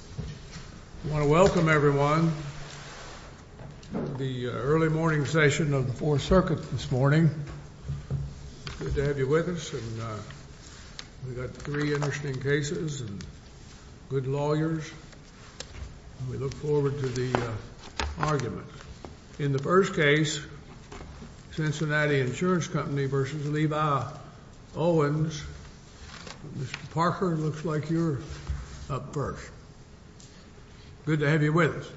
I want to welcome everyone to the early morning session of the Fourth Circuit this morning. Good to have you with us. We've got three interesting cases and good lawyers. We look forward to the argument. In the first case, Cincinnati Insurance Company v. Levi Owens. Mr. Parker, it looks like you're up first. Good to have you with us.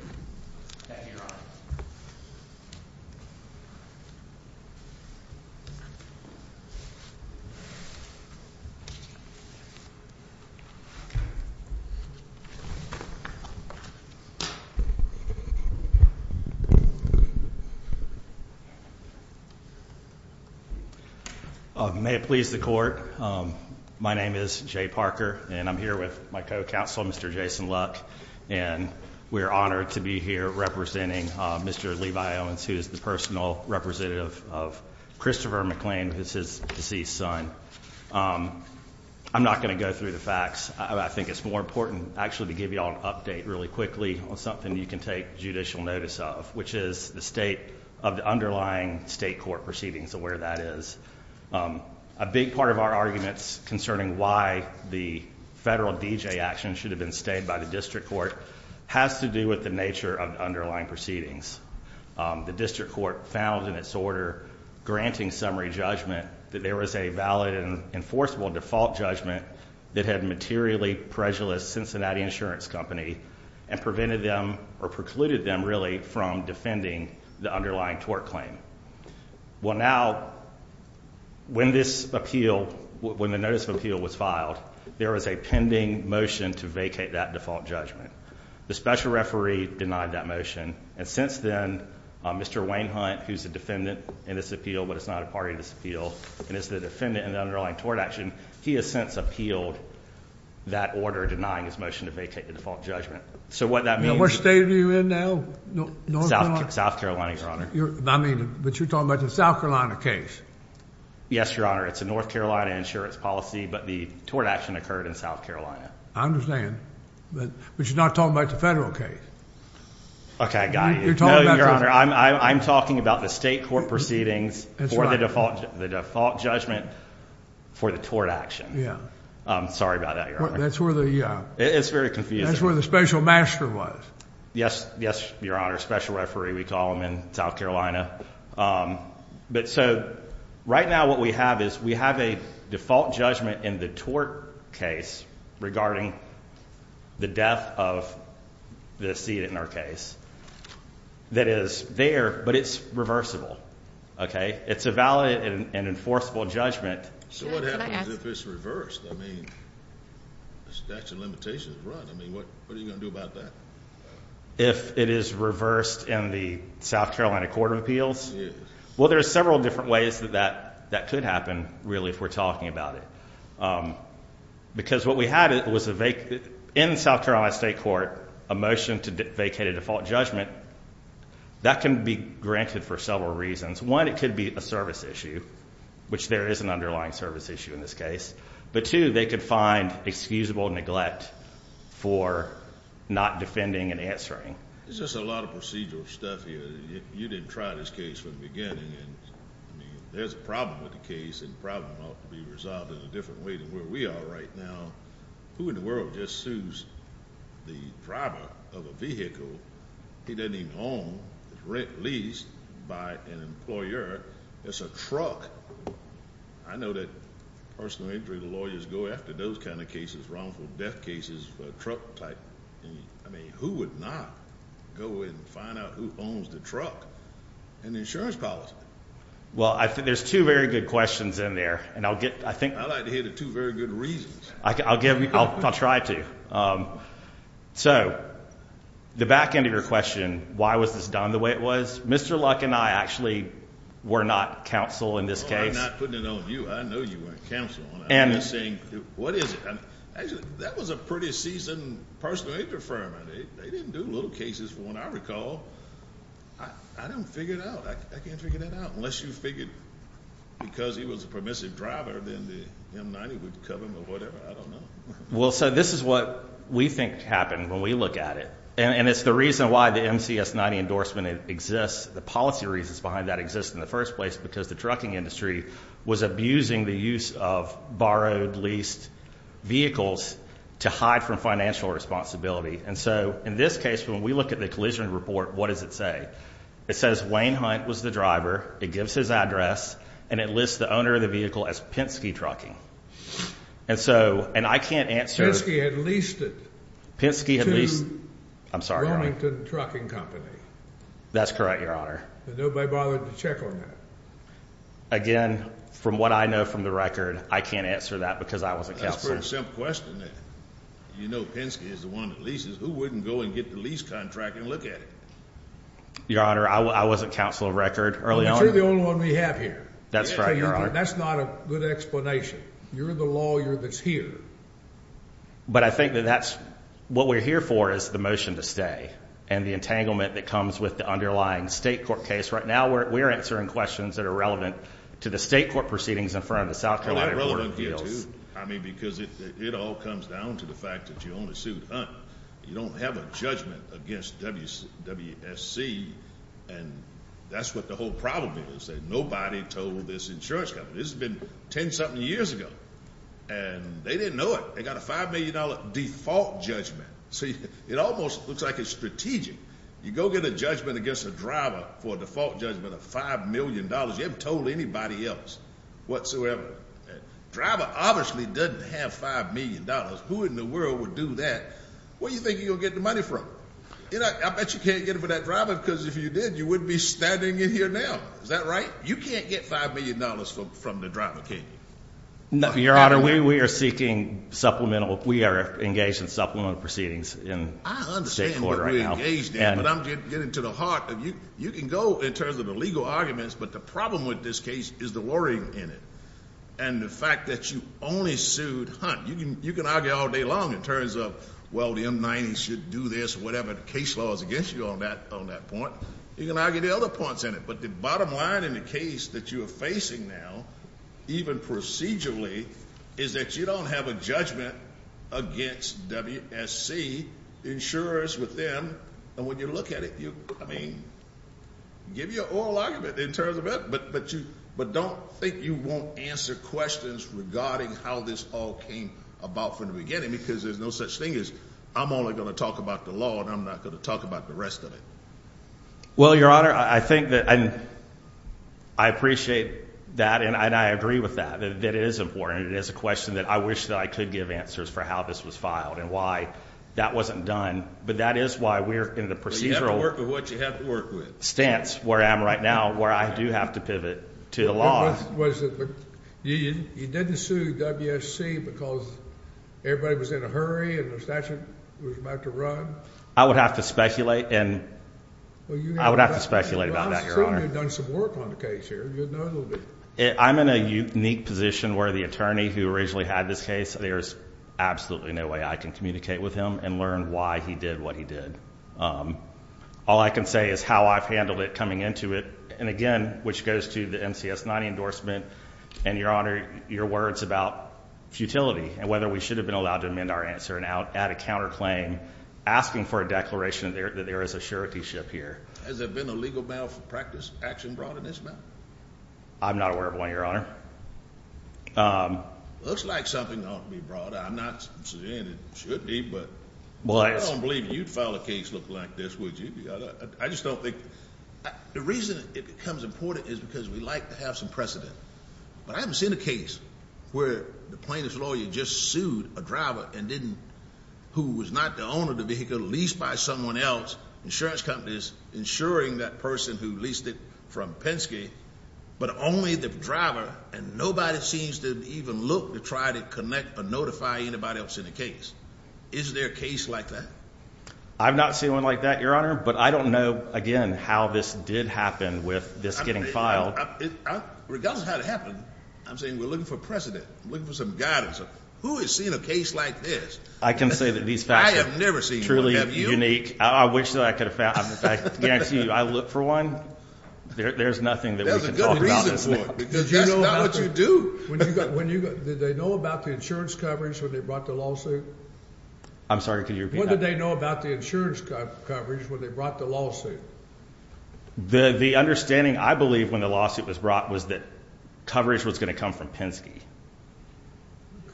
Thank you, Your Honor. May it please the court. My name is Jay Parker, and I'm here with my co-counsel, Mr. Jason Luck. And we're honored to be here representing Mr. Levi Owens, who is the personal representative of Christopher McLean, who's his deceased son. I'm not going to go through the facts. I think it's more important, actually, to give you all an update really quickly on something you can take judicial notice of, which is the state of the underlying state court proceedings and where that is. A big part of our arguments concerning why the federal D.J. action should have been stayed by the district court has to do with the nature of the underlying proceedings. The district court found in its order granting summary judgment that there was a valid and enforceable default judgment that had materially prejudiced Cincinnati Insurance Company and prevented them, or precluded them, really, from defending the underlying tort claim. Well, now, when this appeal, when the notice of appeal was filed, there was a pending motion to vacate that default judgment. The special referee denied that motion, and since then, Mr. Wainhunt, who's a defendant in this appeal, but is not a party to this appeal, and is the defendant in the underlying tort action, he has since appealed that order, denying his motion to vacate the default judgment. So what that means- Now, what state are you in now? North Carolina? South Carolina, Your Honor. I mean, but you're talking about the South Carolina case. Yes, Your Honor. It's a North Carolina insurance policy, but the tort action occurred in South Carolina. I understand, but you're not talking about the federal case. Okay, I got you. You're talking about- No, Your Honor, I'm talking about the state court proceedings for the default judgment for the tort action. Yeah. I'm sorry about that, Your Honor. That's where the- It's very confusing. That's where the special master was. Yes, Your Honor, special referee, we call them in South Carolina. But so, right now what we have is we have a default judgment in the tort case regarding the death of the seated in our case that is there, but it's reversible, okay? It's a valid and enforceable judgment. So what happens if it's reversed? I mean, the statute of limitations is run. I mean, what are you going to do about that? If it is reversed in the South Carolina Court of Appeals? Well, there are several different ways that that could happen, really, if we're talking about it. Because what we had was in South Carolina state court, a motion to vacate a default judgment. That can be granted for several reasons. One, it could be a service issue, which there is an underlying service issue in this case. But two, they could find excusable neglect for not defending and answering. There's just a lot of procedural stuff here. You didn't try this case from the beginning, and I mean, there's a problem with the case, and the problem ought to be resolved in a different way than where we are right now. Who in the world just sues the driver of a vehicle? He doesn't even own, rent, lease by an employer. It's a truck. I know that personal injury lawyers go after those kind of cases, wrongful death cases, truck type. I mean, who would not go in and find out who owns the truck and the insurance policy? Well, I think there's two very good questions in there, and I'll get, I think- I'd like to hear the two very good reasons. I'll give, I'll try to. So, the back end of your question, why was this done the way it was? Mr. Luck and I actually were not counsel in this case. Well, I'm not putting it on you. I know you weren't counsel, and I'm just saying, what is it? That was a pretty seasoned personal injury firm, and they didn't do little cases. From what I recall, I don't figure it out. I can't figure that out, unless you figured because he was a permissive driver, then the M90 would cover him or whatever. I don't know. Well, so this is what we think happened when we look at it, and it's the reason why the MCS-90 endorsement exists. The policy reasons behind that exist in the first place, because the trucking industry was abusing the use of borrowed, leased vehicles to hide from financial responsibility. And so, in this case, when we look at the collision report, what does it say? It says Wayne Hunt was the driver. It gives his address, and it lists the owner of the vehicle as Penske Trucking. And so, and I can't answer- I'm sorry, Your Honor. Burlington Trucking Company. That's correct, Your Honor. Nobody bothered to check on that. Again, from what I know from the record, I can't answer that because I wasn't counsel. That's a pretty simple question. You know Penske is the one that leases. Who wouldn't go and get the lease contract and look at it? Your Honor, I wasn't counsel of record early on. But you're the only one we have here. That's right, Your Honor. That's not a good explanation. You're the lawyer that's here. But I think that that's what we're here for is the motion to stay and the entanglement that comes with the underlying state court case. Right now, we're answering questions that are relevant to the state court proceedings in front of the South Carolina Court of Appeals. I mean, because it all comes down to the fact that you only sued Hunt. You don't have a judgment against WSC. And that's what the whole problem is. Nobody told this insurance company. This has been 10-something years ago. And they didn't know it. They got a $5 million default judgment. See, it almost looks like it's strategic. You go get a judgment against a driver for a default judgment of $5 million. You haven't told anybody else whatsoever. Driver obviously doesn't have $5 million. Who in the world would do that? Where do you think you'll get the money from? I bet you can't get it for that driver because if you did, you wouldn't be standing in here now. Is that right? You can't get $5 million from the driver, can you? Your Honor, we are seeking supplemental. We are engaged in supplemental proceedings in state court right now. I understand what we're engaged in, but I'm getting to the heart of it. You can go in terms of the legal arguments, but the problem with this case is the worrying in it. And the fact that you only sued Hunt. You can argue all day long in terms of, well, the M90s should do this or whatever. The case law is against you on that point. You can argue the other points in it. But the bottom line in the case that you are facing now, even procedurally, is that you don't have a judgment against WSC insurers within. And when you look at it, I mean, give you an oral argument in terms of it, but don't think you won't answer questions regarding how this all came about from the beginning because there's no such thing as, I'm only going to talk about the law and I'm not going to talk about the rest of it. Well, Your Honor, I think that I appreciate that. And I agree with that. That is important. It is a question that I wish that I could give answers for how this was filed and why that wasn't done. But that is why we're in the procedural stance where I am right now, where I do have to pivot to the law. You didn't sue WSC because everybody was in a hurry and the statute was about to run? I would have to speculate and I would have to speculate about that, Your Honor. You've certainly done some work on the case here. I'm in a unique position where the attorney who originally had this case, there's absolutely no way I can communicate with him and learn why he did what he did. All I can say is how I've handled it coming into it. And again, which goes to the MCS 90 endorsement and Your Honor, your words about futility and whether we should have been allowed to amend our answer and add a counterclaim asking for a declaration that there is a surety ship here. Has there been a legal battle for practice action brought in this matter? I'm not aware of one, Your Honor. Looks like something ought to be brought. I'm not saying it should be, but I don't believe you'd file a case look like this, would you? I just don't think the reason it becomes important is because we like to have some precedent. But I haven't seen a case where the plaintiff's lawyer just sued a driver and didn't who was not the owner of the vehicle leased by someone else, insurance companies insuring that person who leased it from Penske, but only the driver. And nobody seems to even look to try to connect or notify anybody else in the case. Is there a case like that? I've not seen one like that, Your Honor. But I don't know, again, how this did happen with this getting filed. Regardless of how it happened, I'm saying we're looking for precedent, looking for some guidance of who is seeing a case like this. I can say that these facts are truly unique. I wish that I could have found the facts. I look for one. There's nothing that we can talk about. That's not what you do. Did they know about the insurance coverage when they brought the lawsuit? I'm sorry, could you repeat that? What did they know about the insurance coverage when they brought the lawsuit? The understanding, I believe, when the lawsuit was brought was that coverage was going to come from Penske.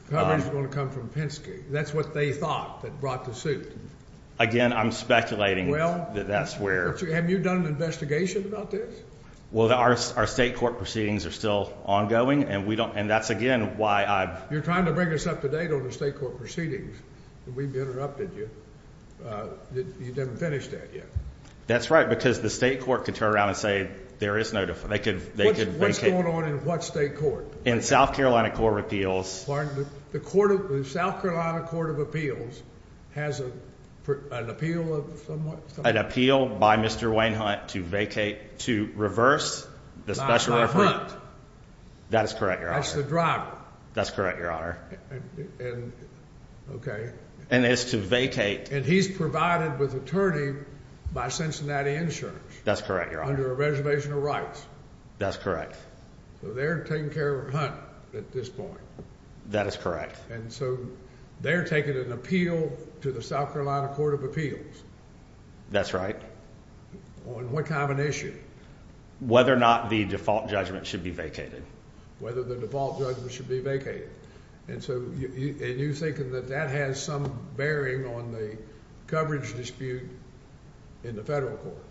Coverage was going to come from Penske. That's what they thought that brought the suit. Again, I'm speculating that that's where... Have you done an investigation about this? Well, our state court proceedings are still ongoing, and that's, again, why I... You're trying to bring us up to date on the state court proceedings, and we've interrupted you. You haven't finished that yet. That's right, because the state court could turn around and say there is no... They could vacate... What's going on in what state court? In South Carolina Court of Appeals. The South Carolina Court of Appeals has an appeal of somewhat... An appeal by Mr. Wainhunt to vacate, to reverse the special... That is correct, Your Honor. That's the driver. That's correct, Your Honor. Okay. And it's to vacate... And he's provided with attorney by Cincinnati Insurance. That's correct, Your Honor. Under a reservation of rights. That's correct. So they're taking care of Hunt at this point. That is correct. And so they're taking an appeal to the South Carolina Court of Appeals. That's right. On what kind of an issue? Whether or not the default judgment should be vacated. Whether the default judgment should be vacated. And so, and you're thinking that that has some bearing on the coverage dispute in the federal court.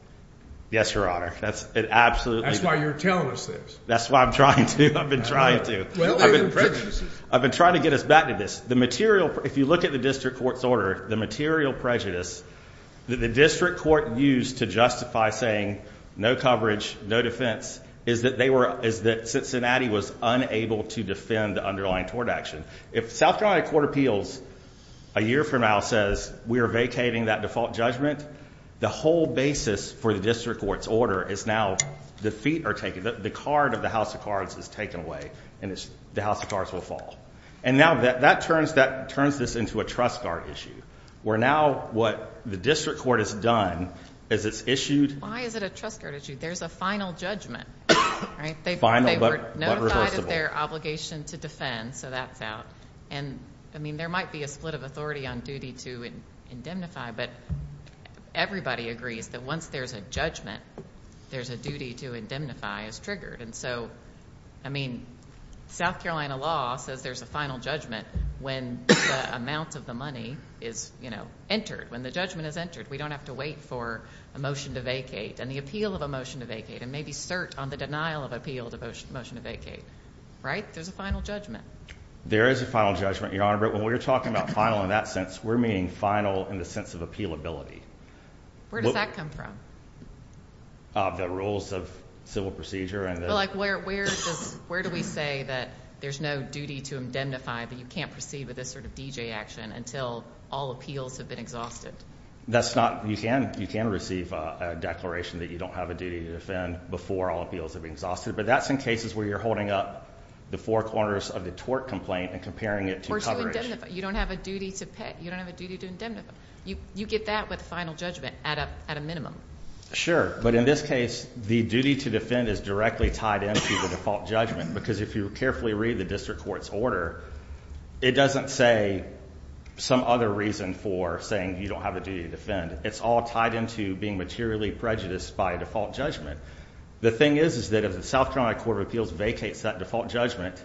Yes, Your Honor. That's absolutely... That's why you're telling us this. That's why I'm trying to. I've been trying to. Well, there are prejudices. I've been trying to get us back to this. The material, if you look at the district court's order, the material prejudice that the district court used to justify saying no coverage, no defense, is that they were, is that Cincinnati was unable to defend the underlying tort action. If South Carolina Court of Appeals, a year from now, says we are vacating that default judgment, the whole basis for the district court's order is now the feet are taken. The card of the House of Cards is taken away. And the House of Cards will fall. And now that turns this into a trust guard issue. Where now what the district court has done is it's issued... Why is it a trust guard issue? There's a final judgment, right? Final but reversible. They were notified of their obligation to defend. So that's out. And I mean, there might be a split of authority on duty to indemnify. But everybody agrees that once there's a judgment, there's a duty to indemnify is triggered. And so, I mean, South Carolina law says there's a final judgment when the amount of the money is, you know, entered. When the judgment is entered. We don't have to wait for a motion to vacate and the appeal of a motion to vacate and maybe cert on the denial of appeal to motion to vacate, right? There's a final judgment. There is a final judgment, Your Honor. But when we're talking about final in that sense, we're meaning final in the sense of appealability. Where does that come from? The rules of civil procedure. Like where do we say that there's no duty to indemnify but you can't proceed with this sort of DJ action until all appeals have been exhausted? That's not. You can receive a declaration that you don't have a duty to defend before all appeals have been exhausted. But that's in cases where you're holding up the four corners of the tort complaint and comparing it to coverage. You don't have a duty to pay. You don't have a duty to indemnify. You get that with final judgment at a minimum. Sure. But in this case, the duty to defend is directly tied into the default judgment. Because if you carefully read the district court's order, it doesn't say some other reason for saying you don't have a duty to defend. It's all tied into being materially prejudiced by a default judgment. The thing is, is that if the South Carolina Court of Appeals vacates that default judgment,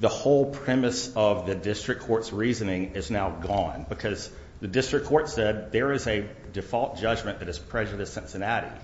the whole premise of the district court's reasoning is now gone. Because the district court said there is a default judgment that is prejudiced Cincinnati.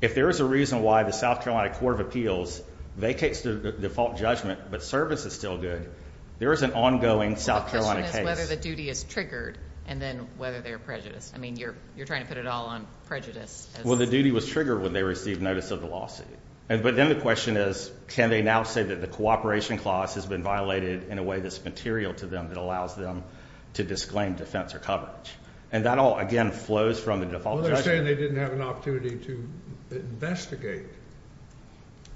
If there is a reason why the South Carolina Court of Appeals vacates the default judgment, but service is still good, there is an ongoing South Carolina case. Well, the question is whether the duty is triggered and then whether they're prejudiced. I mean, you're trying to put it all on prejudice. Well, the duty was triggered when they received notice of the lawsuit. But then the question is, can they now say that the cooperation clause has been violated in a way that's material to them that allows them to disclaim defense or coverage? And that all, again, flows from the default judgment. Well, they're saying they didn't have an opportunity to investigate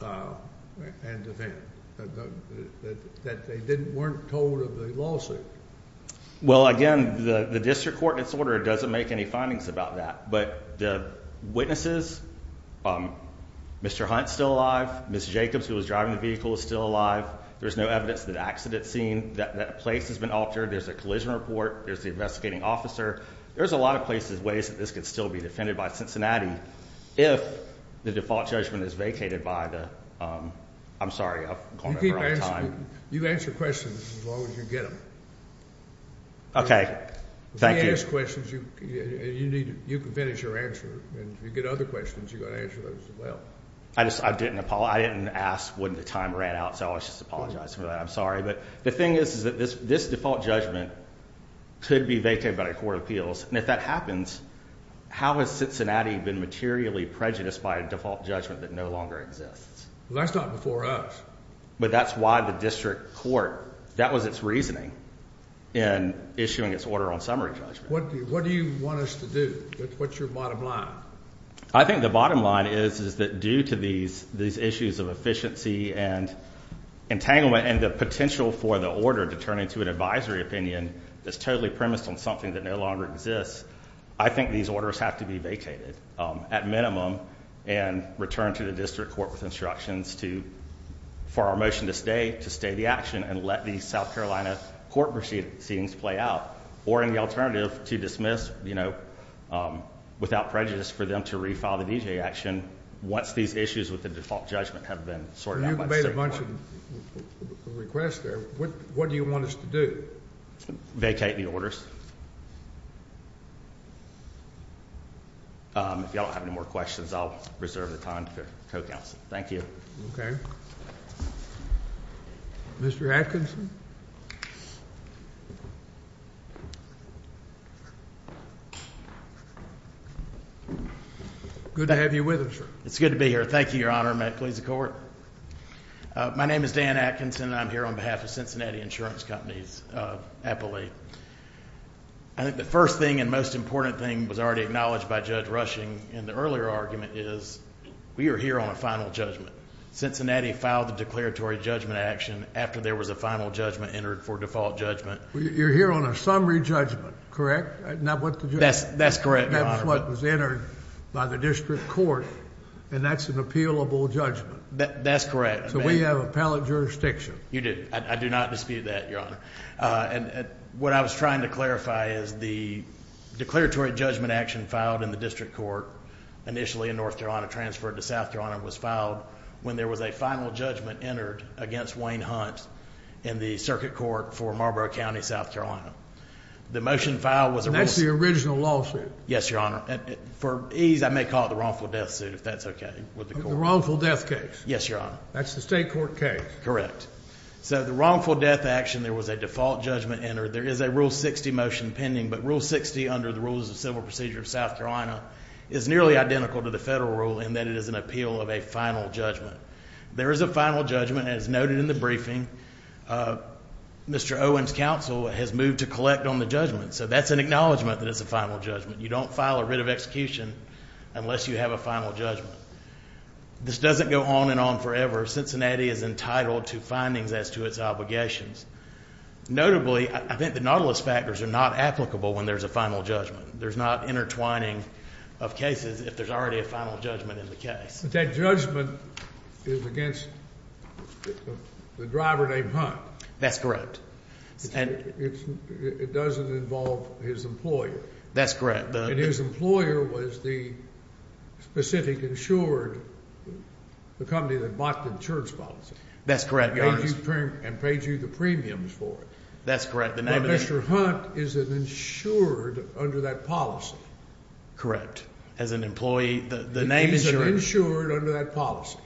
and defend, that they weren't told of the lawsuit. Well, again, the district court in its order doesn't make any findings about that. But the witnesses, Mr. Hunt's still alive. Ms. Jacobs, who was driving the vehicle, is still alive. There's no evidence of an accident scene. That place has been altered. There's a collision report. There's the investigating officer. There's a lot of places, ways that this could still be defended by Cincinnati if the default judgment is vacated by the... I'm sorry, I've gone over our time. You answer questions as long as you get them. Okay, thank you. If they ask questions, you can finish your answer. And if you get other questions, you've got to answer those as well. I didn't, Paul. I didn't ask when the time ran out, so I was just apologizing for that. I'm sorry. But the thing is, is that this default judgment could be vacated by the court of appeals. And if that happens, how has Cincinnati been materially prejudiced by a default judgment that no longer exists? Well, that's not before us. But that's why the district court, that was its reasoning in issuing its order on summary judgment. What do you want us to do? What's your bottom line? I think the bottom line is that due to these issues of efficiency and entanglement and the potential for the order to turn into an advisory opinion that's totally premised on something that no longer exists, I think these orders have to be vacated at minimum and returned to the district court with instructions for our motion to stay, to stay the action and let these South Carolina court proceedings play out. Or in the alternative, to dismiss, you know, without prejudice for them to refile the D.J. action once these issues with the default judgment have been sorted out. You've made a bunch of requests there. What do you want us to do? Vacate the orders. If y'all have any more questions, I'll reserve the time for co-counsel. Thank you. Okay. Mr. Atkinson? Good to have you with us, sir. It's good to be here. Thank you, Your Honor. May it please the court. My name is Dan Atkinson and I'm here on behalf of Cincinnati Insurance Company's appellee. I think the first thing and most important thing was already acknowledged by Judge Rushing in the earlier argument is we are here on a final judgment. Cincinnati filed the declaratory judgment action after there was a final judgment entered for default judgment. You're here on a summary judgment, correct? That's correct, Your Honor. That's what was entered by the district court and that's an appealable judgment. That's correct. So we have appellate jurisdiction. You do. I do not dispute that, Your Honor. And what I was trying to clarify is the declaratory judgment action filed in the district court initially in North Carolina, transferred to South Carolina, was filed when there was a final judgment entered against Wayne Hunt in the circuit court for Marlboro County, South Carolina. The motion filed was a rule... That's the original lawsuit. Yes, Your Honor. For ease, I may call it the wrongful death suit if that's okay with the court. The wrongful death case. Yes, Your Honor. That's the state court case. Correct. So the wrongful death action, there was a default judgment entered. There is a Rule 60 motion pending, but Rule 60 under the rules of civil procedure of South Carolina is nearly identical to the federal rule in that it is an appeal of a final judgment. There is a final judgment as noted in the briefing. Mr. Owen's counsel has moved to collect on the judgment. So that's an acknowledgement that it's a final judgment. You don't file a writ of execution unless you have a final judgment. This doesn't go on and on forever. Cincinnati is entitled to findings as to its obligations. Notably, I think the nautilus factors are not applicable when there's a final judgment. There's not intertwining of cases if there's already a final judgment in the case. That judgment is against the driver named Hunt. That's correct. It doesn't involve his employer. That's correct. And his employer was the specific insured, the company that bought the insurance policy. That's correct, Your Honor. And paid you the premiums for it. That's correct. But Mr. Hunt is an insured under that policy. Correct. As an employee, the name insurance. Insured under that policy.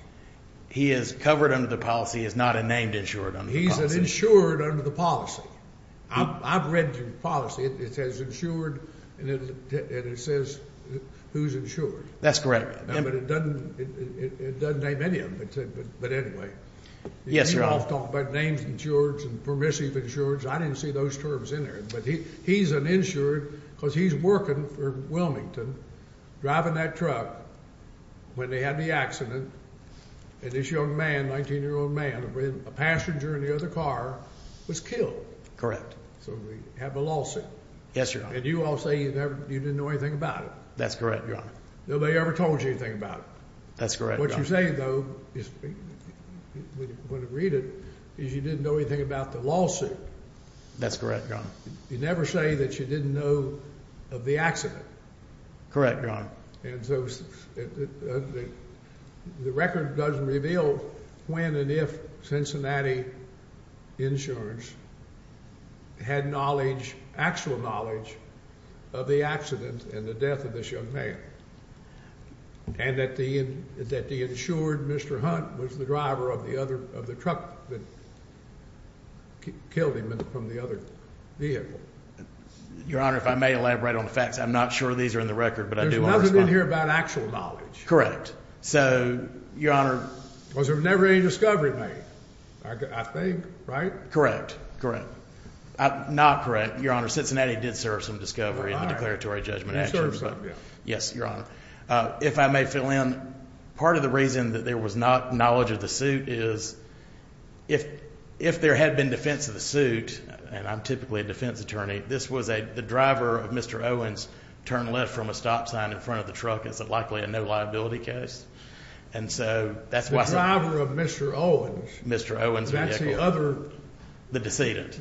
He is covered under the policy. He is not a named insured under the policy. He's an insured under the policy. I've read the policy. It says insured and it says who's insured. That's correct. But it doesn't name any of them. But anyway. Yes, Your Honor. We've talked about names insured and permissive insured. I didn't see those terms in there. But he's an insured because he's working for Wilmington, driving that truck. They had the accident. And this young man, 19-year-old man, a passenger in the other car was killed. So we have a lawsuit. Yes, Your Honor. And you all say you didn't know anything about it. That's correct, Your Honor. Nobody ever told you anything about it. That's correct, Your Honor. What you say, though, when you read it, is you didn't know anything about the lawsuit. That's correct, Your Honor. You never say that you didn't know of the accident. Correct, Your Honor. And so the record doesn't reveal when and if Cincinnati insurance had knowledge, actual knowledge, of the accident and the death of this young man. And that the insured Mr. Hunt was the driver of the truck that killed him from the other vehicle. Your Honor, if I may elaborate on the facts. I'm not sure these are in the record. There's nothing in here about actual knowledge. So, Your Honor. Was there never any discovery made? I think, right? Correct, correct. Not correct, Your Honor. Cincinnati did serve some discovery in the declaratory judgment. Yes, Your Honor. If I may fill in, part of the reason that there was not knowledge of the suit is if there had been defense of the suit, and I'm typically a defense attorney, this was the driver of Mr. Owens' turn left from a stop sign in front of the truck. It's likely a no liability case. And so that's why... The driver of Mr. Owens. Mr. Owens' vehicle. That's the other... The decedent.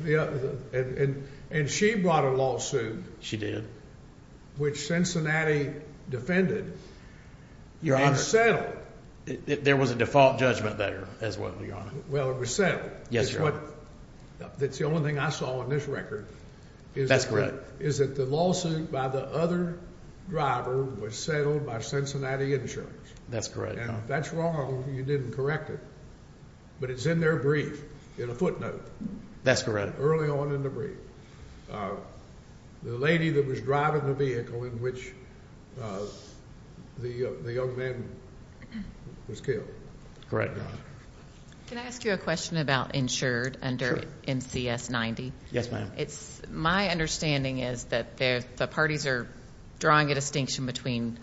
And she brought a lawsuit. She did. Which Cincinnati defended. Your Honor... And settled. There was a default judgment there as well, Your Honor. Well, it was settled. Yes, Your Honor. That's the only thing I saw on this record. That's correct. Is that the lawsuit by the other driver was settled by Cincinnati Insurance. That's correct, Your Honor. That's wrong. You didn't correct it. But it's in their brief, in a footnote. That's correct. Early on in the brief. The lady that was driving the vehicle in which the young man was killed. Correct, Your Honor. Can I ask you a question about insured under MCS 90? Yes, ma'am. It's... My understanding is that the parties are drawing a distinction between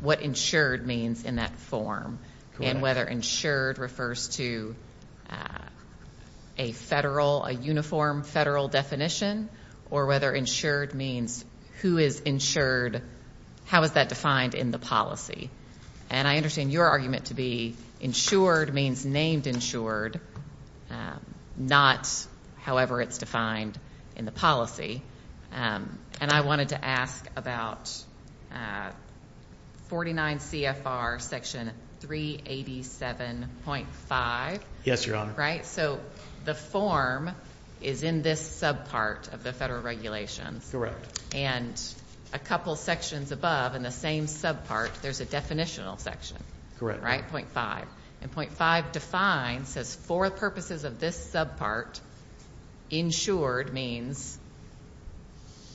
what insured means in that form and whether insured refers to a federal, a uniform federal definition or whether insured means who is insured. How is that defined in the policy? And I understand your argument to be insured means named insured, not however it's defined in the policy. And I wanted to ask about 49 CFR section 387.5. Yes, Your Honor. Right? So the form is in this subpart of the federal regulations. Correct. And a couple sections above in the same subpart, there's a definitional section. Right? Point five. And point five defines, says for purposes of this subpart, insured means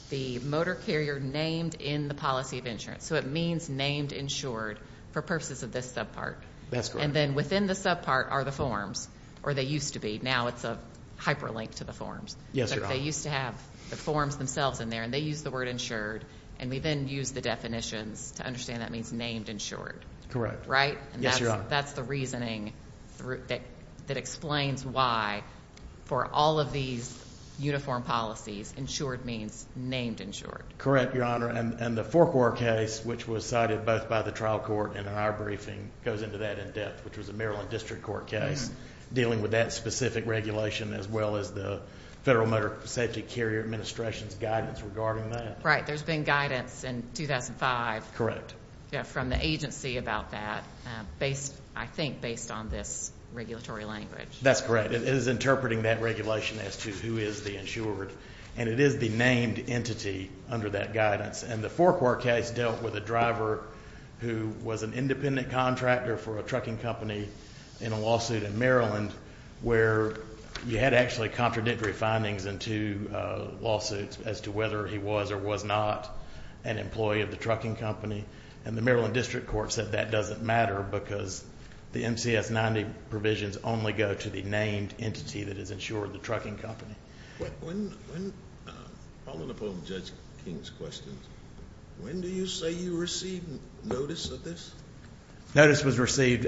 the motor carrier named in the policy of insurance. So it means named insured for purposes of this subpart. That's correct. And then within the subpart are the forms or they used to be. Now it's a hyperlink to the forms. Yes, Your Honor. They used to have the forms themselves in there and they use the word insured. And we then use the definitions to understand that means named insured. Right? Yes, Your Honor. And that's the reasoning that explains why for all of these uniform policies, insured means named insured. Correct, Your Honor. And the forecourt case, which was cited both by the trial court and our briefing goes into that in depth, which was a Maryland district court case dealing with that specific regulation, as well as the Federal Motor Safety Carrier Administration's guidance regarding that. There's been guidance in 2005. Yeah. From the agency about that based, I think, based on this regulatory language. That's correct. It is interpreting that regulation as to who is the insured. And it is the named entity under that guidance. And the forecourt case dealt with a driver who was an independent contractor for a trucking company in a lawsuit in Maryland where you had actually contradictory findings in two lawsuits as to whether he was or was not an employee of the trucking company. And the Maryland district court said that doesn't matter because the MCS 90 provisions only go to the named entity that is insured, the trucking company. When, following up on Judge King's questions, when do you say you received notice of this? Notice was received.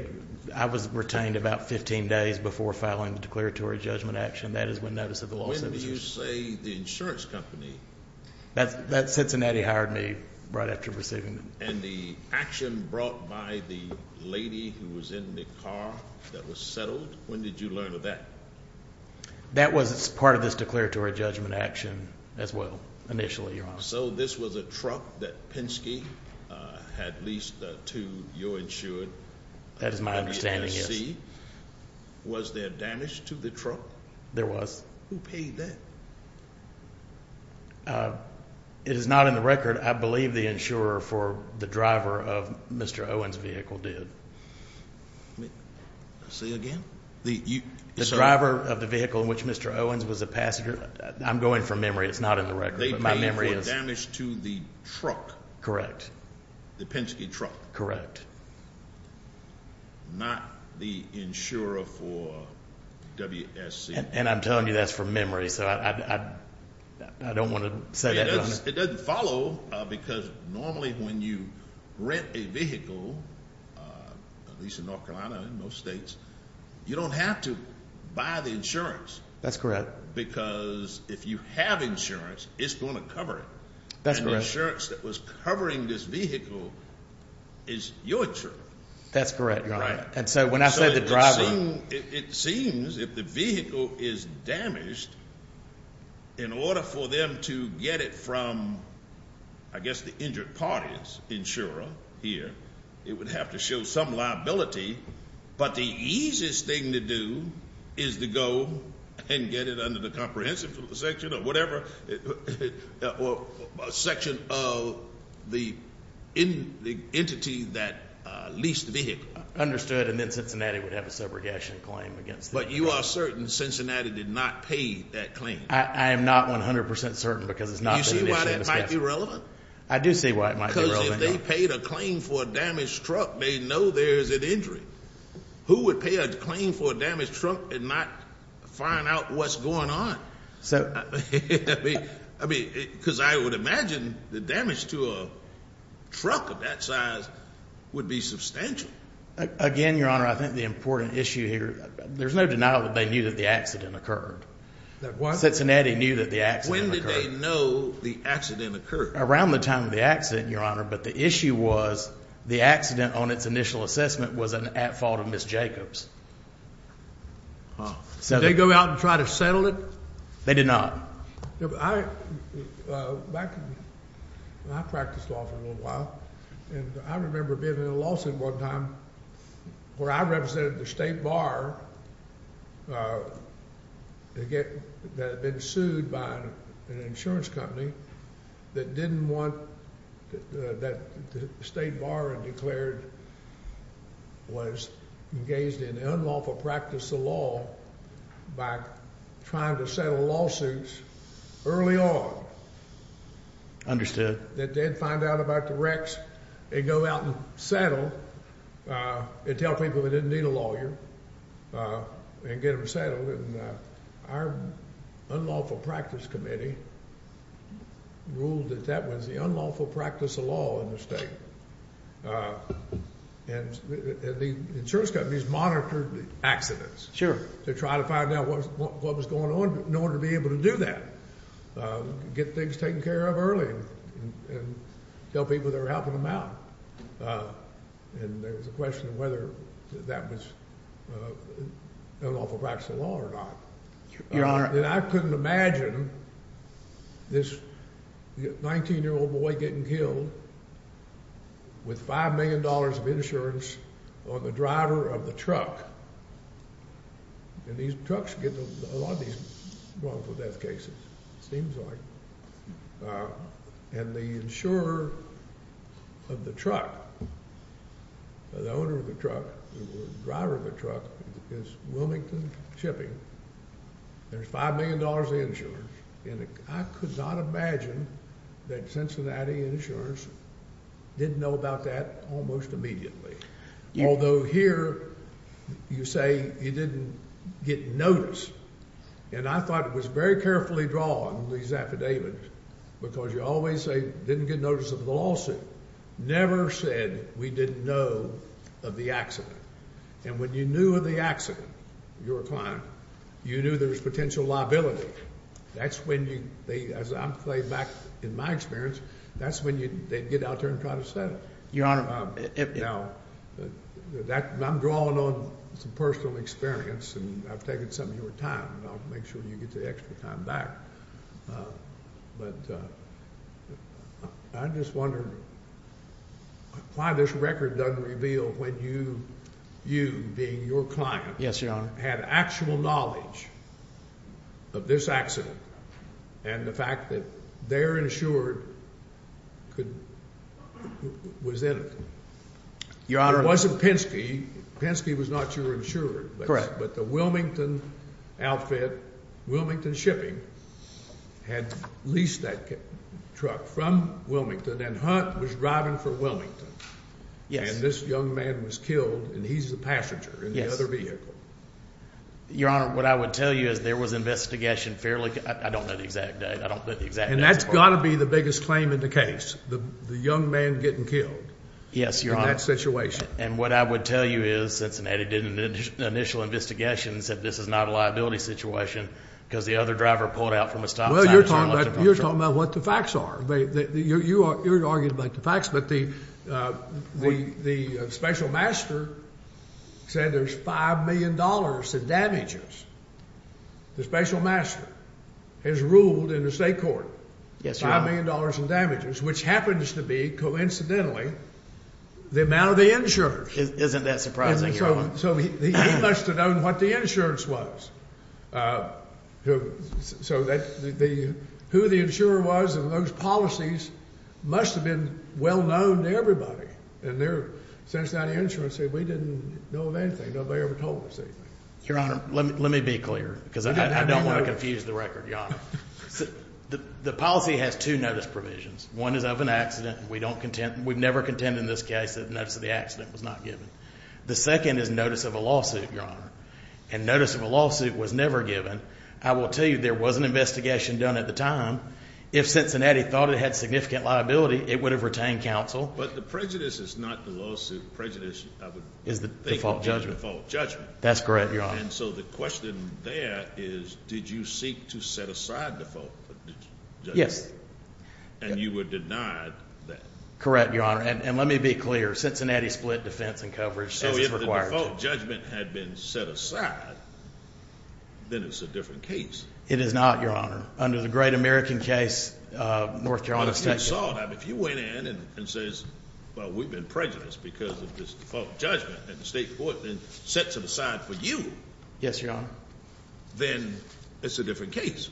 I was retained about 15 days before filing the declaratory judgment action. That is when notice of the lawsuit was issued. When did you say the insurance company? That Cincinnati hired me right after receiving them. And the action brought by the lady who was in the car that was settled, when did you learn of that? That was part of this declaratory judgment action as well, initially, Your Honor. So this was a truck that Penske had leased to your insured? That is my understanding, yes. Was there damage to the truck? There was. Who paid that? It is not in the record. I believe the insurer for the driver of Mr. Owens' vehicle did. Say again? The driver of the vehicle in which Mr. Owens was a passenger. I'm going from memory. It's not in the record. My memory is. Damage to the truck. Correct. The Penske truck. Correct. Not the insurer for WSC. And I'm telling you that's from memory, so I don't want to say that. It doesn't follow because normally when you rent a vehicle, at least in North Carolina, in most states, you don't have to buy the insurance. That's correct. Because if you have insurance, it's going to cover it. That's correct. And the insurance that was covering this vehicle is your insurer. That's correct, Your Honor. And so when I say the driver. It seems if the vehicle is damaged, in order for them to get it from, I guess, the injured party's insurer here, it would have to show some liability. But the easiest thing to do is to go and get it under the comprehensive section or whatever. Section of the entity that leased the vehicle. Understood. And then Cincinnati would have a subrogation claim against them. But you are certain Cincinnati did not pay that claim? I am not 100% certain because it's not the initiative of the staff. Do you see why that might be relevant? I do see why it might be relevant. If they paid a claim for a damaged truck, they know there's an injury. Who would pay a claim for a damaged truck and not find out what's going on? Because I would imagine the damage to a truck of that size would be substantial. Again, Your Honor, I think the important issue here, there's no denial that they knew that the accident occurred. Cincinnati knew that the accident occurred. When did they know the accident occurred? Around the time of the accident, Your Honor. But the issue was the accident on its initial assessment was at fault of Ms. Jacobs. Did they go out and try to settle it? They did not. Back when I practiced law for a little while, and I remember being in a lawsuit one time where I represented the state bar that had been sued by an insurance company that didn't want that the state bar had declared was engaged in unlawful practice of law by trying to settle lawsuits early on. Understood. They did find out about the wrecks. They'd go out and settle and tell people they didn't need a lawyer. And get them settled. And our unlawful practice committee ruled that that was the unlawful practice of law in the state. And the insurance companies monitored the accidents. Sure. To try to find out what was going on in order to be able to do that. Get things taken care of early and tell people they were helping them out. Uh, and there was a question of whether that was unlawful practice of law or not. And I couldn't imagine this 19-year-old boy getting killed with $5 million of insurance on the driver of the truck. And these trucks get a lot of these wrongful death cases, it seems like. Uh, and the insurer of the truck, the owner of the truck, the driver of the truck, is Wilmington Shipping. There's $5 million of insurance. And I could not imagine that Cincinnati Insurance didn't know about that almost immediately. Although here, you say you didn't get notice. And I thought it was very carefully drawn, these affidavits, because you always say, didn't get notice of the lawsuit. Never said we didn't know of the accident. And when you knew of the accident, you're a client, you knew there was potential liability. That's when you, as I'm playing back in my experience, that's when they'd get out there and try to set it. Your Honor. Now, I'm drawing on some personal experience, and I've taken some of your time, and I'll make sure you get the extra time back. But I just wonder why this record doesn't reveal when you, you being your client. Yes, Your Honor. Had actual knowledge of this accident, and the fact that their insurer could, was innocent. Your Honor. It wasn't Penske. Penske was not your insurer. Correct. But the Wilmington outfit, Wilmington Shipping, had leased that truck from Wilmington, and Hunt was driving for Wilmington. Yes. And this young man was killed, and he's the passenger in the other vehicle. Your Honor, what I would tell you is there was investigation fairly, I don't know the exact date, I don't know the exact date. And that's got to be the biggest claim in the case, the young man getting killed. Yes, Your Honor. In that situation. And what I would tell you is Cincinnati did an initial investigation, and said this is not a liability situation, because the other driver pulled out from a stop sign. Well, you're talking about what the facts are. You're arguing about the facts, but the special master said there's $5 million in damages. The special master has ruled in the state court $5 million in damages, which happens to be, coincidentally, the amount of the insurance. Isn't that surprising, Your Honor? So he must have known what the insurance was. So who the insurer was and those policies must have been well known to everybody. And Cincinnati Insurance said we didn't know of anything, nobody ever told us anything. Your Honor, let me be clear, because I don't want to confuse the record, Your Honor. The policy has two notice provisions. One is of an accident. We don't contend, we've never contended in this case that notice of the accident was not given. The second is notice of a lawsuit, Your Honor. And notice of a lawsuit was never given. I will tell you there was an investigation done at the time. If Cincinnati thought it had significant liability, it would have retained counsel. But the prejudice is not the lawsuit. Prejudice, I would think, is the default judgment. That's correct, Your Honor. And so the question there is, did you seek to set aside default judgment? Yes. And you were denied that? Correct, Your Honor. And let me be clear. Cincinnati split defense and coverage as is required. So if the default judgment had been set aside, then it's a different case. It is not, Your Honor. Under the Great American case, North Carolina State Court. But if you saw that, if you went in and says, well, we've been prejudiced because of this default judgment, and the state court then sets it aside for you. Yes, Your Honor. Then it's a different case.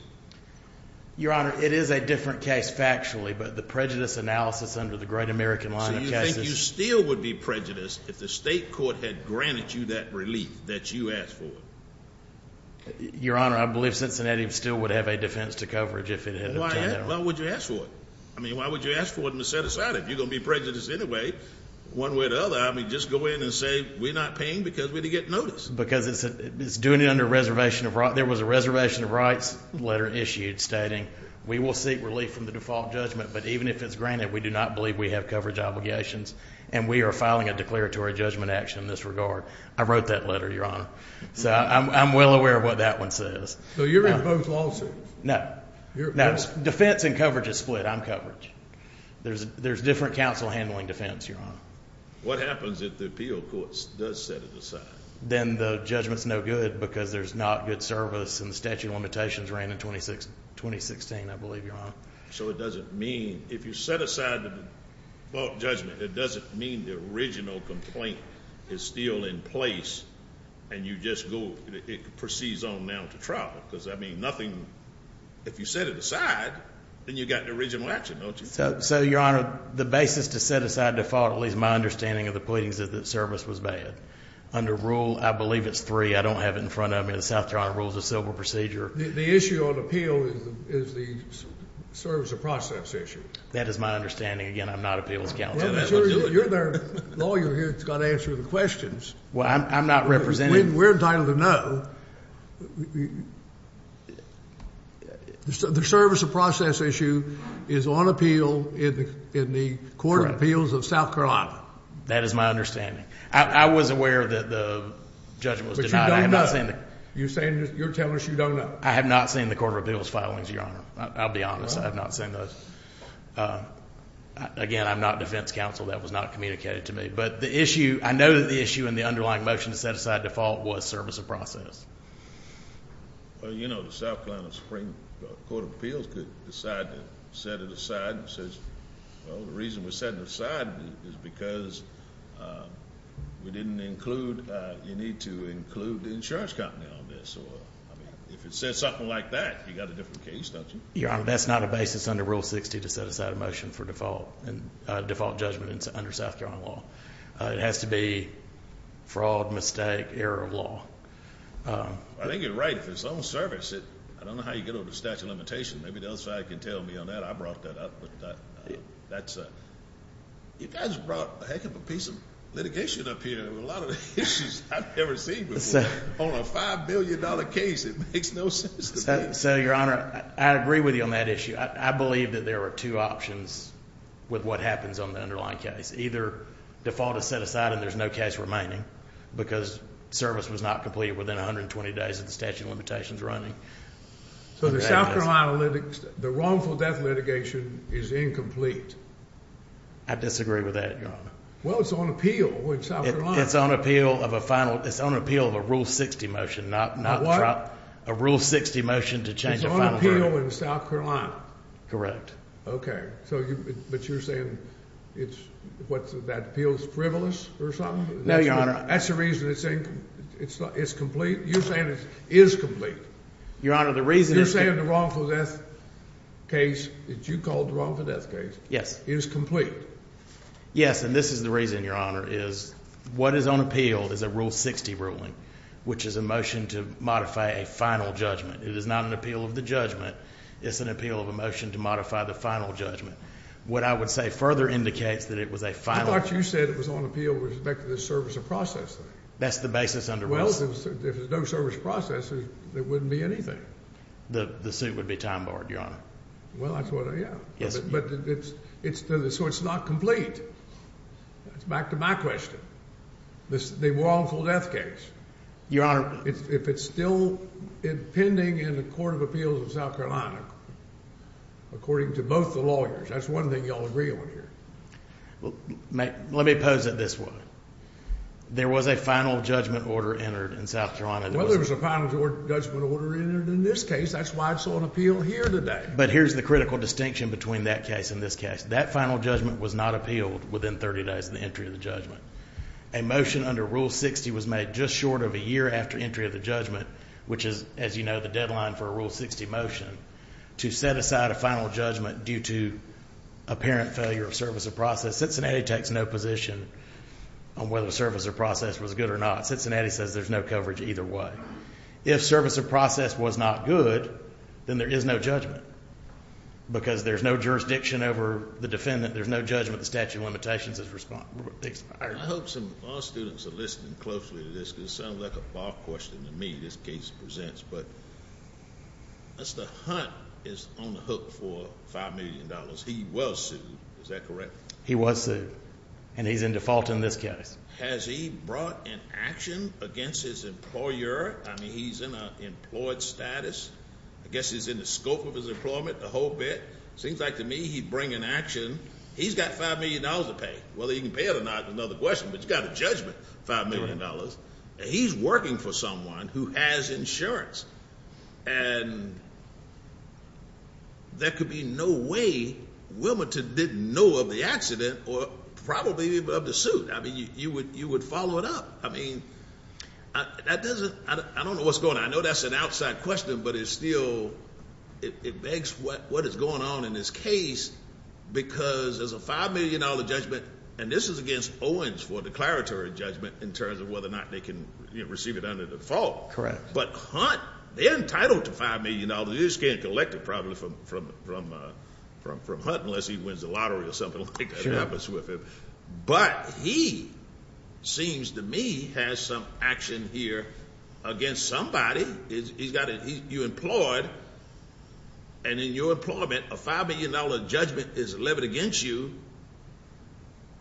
Your Honor, it is a different case factually. But the prejudice analysis under the Great American line of cases. So you think you still would be prejudiced if the state court had granted you that relief that you asked for? Your Honor, I believe Cincinnati still would have a defense to coverage if it had obtained that. Why would you ask for it? I mean, why would you ask for it and set aside it? If you're going to be prejudiced anyway, one way or the other, I mean, just go in and say, we're not paying because we didn't get notice. Because it's doing it under a reservation of rights. Letter issued stating, we will seek relief from the default judgment. But even if it's granted, we do not believe we have coverage obligations. And we are filing a declaratory judgment action in this regard. I wrote that letter, Your Honor. So I'm well aware of what that one says. So you're in both lawsuits? No. Defense and coverage is split. I'm coverage. There's different counsel handling defense, Your Honor. What happens if the appeal court does set it aside? Then the judgment's no good because there's not good service. And the statute of limitations ran in 2016, I believe, Your Honor. So it doesn't mean, if you set aside the default judgment, it doesn't mean the original complaint is still in place. And you just go, it proceeds on now to trial. Because, I mean, nothing, if you set it aside, then you got the original action, don't you? So, Your Honor, the basis to set aside default, at least my understanding of the pleadings, is that service was bad. Under rule, I believe it's three. I don't have it in front of me. The South Carolina Rules of Civil Procedure. The issue on appeal is the service of process issue. That is my understanding. Again, I'm not appeals counsel. Well, you're their lawyer here that's got to answer the questions. Well, I'm not representing. We're entitled to know. The service of process issue is on appeal in the Court of Appeals of South Carolina. That is my understanding. I was aware that the judgment was denied. You're saying you're telling us you don't know. I have not seen the Court of Appeals filings, Your Honor. I'll be honest. I have not seen those. Again, I'm not defense counsel. That was not communicated to me. But the issue, I know that the issue in the underlying motion to set aside default was service of process. Well, you know, the South Carolina Supreme Court of Appeals could decide to set it aside. It says, well, the reason we're setting it aside is because we didn't include, you need to include the insurance company on this. If it says something like that, you got a different case, don't you? Your Honor, that's not a basis under Rule 60 to set aside a motion for default judgment under South Carolina law. It has to be fraud, mistake, error of law. I think you're right. If it's on service, I don't know how you get over the statute of limitations. Maybe the other side can tell me on that. I brought that up. You guys brought a heck of a piece of litigation up here with a lot of issues I've never seen before. On a $5 billion case, it makes no sense to me. So, Your Honor, I agree with you on that issue. I believe that there are two options with what happens on the underlying case. Either default is set aside and there's no case remaining because service was not completed within 120 days of the statute of limitations running. So the South Carolina, the wrongful death litigation is incomplete. I disagree with that, Your Honor. Well, it's on appeal in South Carolina. It's on appeal of a final. It's on appeal of a Rule 60 motion, not a Rule 60 motion to change. It's on appeal in South Carolina. But you're saying it's what's that appeals frivolous or something? No, Your Honor. That's the reason it's incomplete. You're saying it is complete. Your Honor, the reason. You're saying the wrongful death case that you called the wrongful death case. Yes. Is complete. Yes. And this is the reason, Your Honor, is what is on appeal is a Rule 60 ruling, which is a motion to modify a final judgment. It is not an appeal of the judgment. It's an appeal of a motion to modify the final judgment. What I would say further indicates that it was a final. I thought you said it was on appeal with respect to the service of process. That's the basis under. Well, if there's no service process, there wouldn't be anything. The suit would be time barred, Your Honor. Well, that's what I. Yeah. Yes. It's so it's not complete. It's back to my question. The wrongful death case. Your Honor. If it's still pending in the Court of Appeals of South Carolina, according to both the lawyers, that's one thing y'all agree on here. Well, let me pose it this way. There was a final judgment order entered in South Carolina. Well, there was a final judgment order entered in this case. That's why it's on appeal here today. But here's the critical distinction between that case and this case. That final judgment was not appealed within 30 days of the entry of the judgment. A motion under Rule 60 was made just short of a year after entry of the judgment, which is, as you know, the deadline for a Rule 60 motion, to set aside a final judgment due to apparent failure of service of process. Cincinnati takes no position on whether the service of process was good or not. Cincinnati says there's no coverage either way. If service of process was not good, then there is no judgment. Because there's no jurisdiction over the defendant, there's no judgment, the statute of limitations is expired. I hope some law students are listening closely to this, because it sounds like a bar question to me this case presents. But Mr. Hunt is on the hook for $5 million. He was sued, is that correct? He was sued. And he's in default in this case. Has he brought an action against his employer? I mean, he's in an employed status. I guess he's in the scope of his employment, the whole bit. Seems like to me, he'd bring an action. He's got $5 million to pay. Whether he can pay it or not is another question. But he's got a judgment, $5 million. And he's working for someone who has insurance. And there could be no way Wilmington didn't know of the accident or probably of the suit. I mean, you would follow it up. I mean, I don't know what's going on. I know that's an outside question. But it's still, it begs what is going on in this case. Because there's a $5 million judgment. And this is against Owens for declaratory judgment in terms of whether or not they can receive it under default. But Hunt, they're entitled to $5 million. They just can't collect it probably from Hunt unless he wins a lottery or something like that happens with him. But he, seems to me, has some action here against somebody. You employed. And in your employment, a $5 million judgment is levied against you.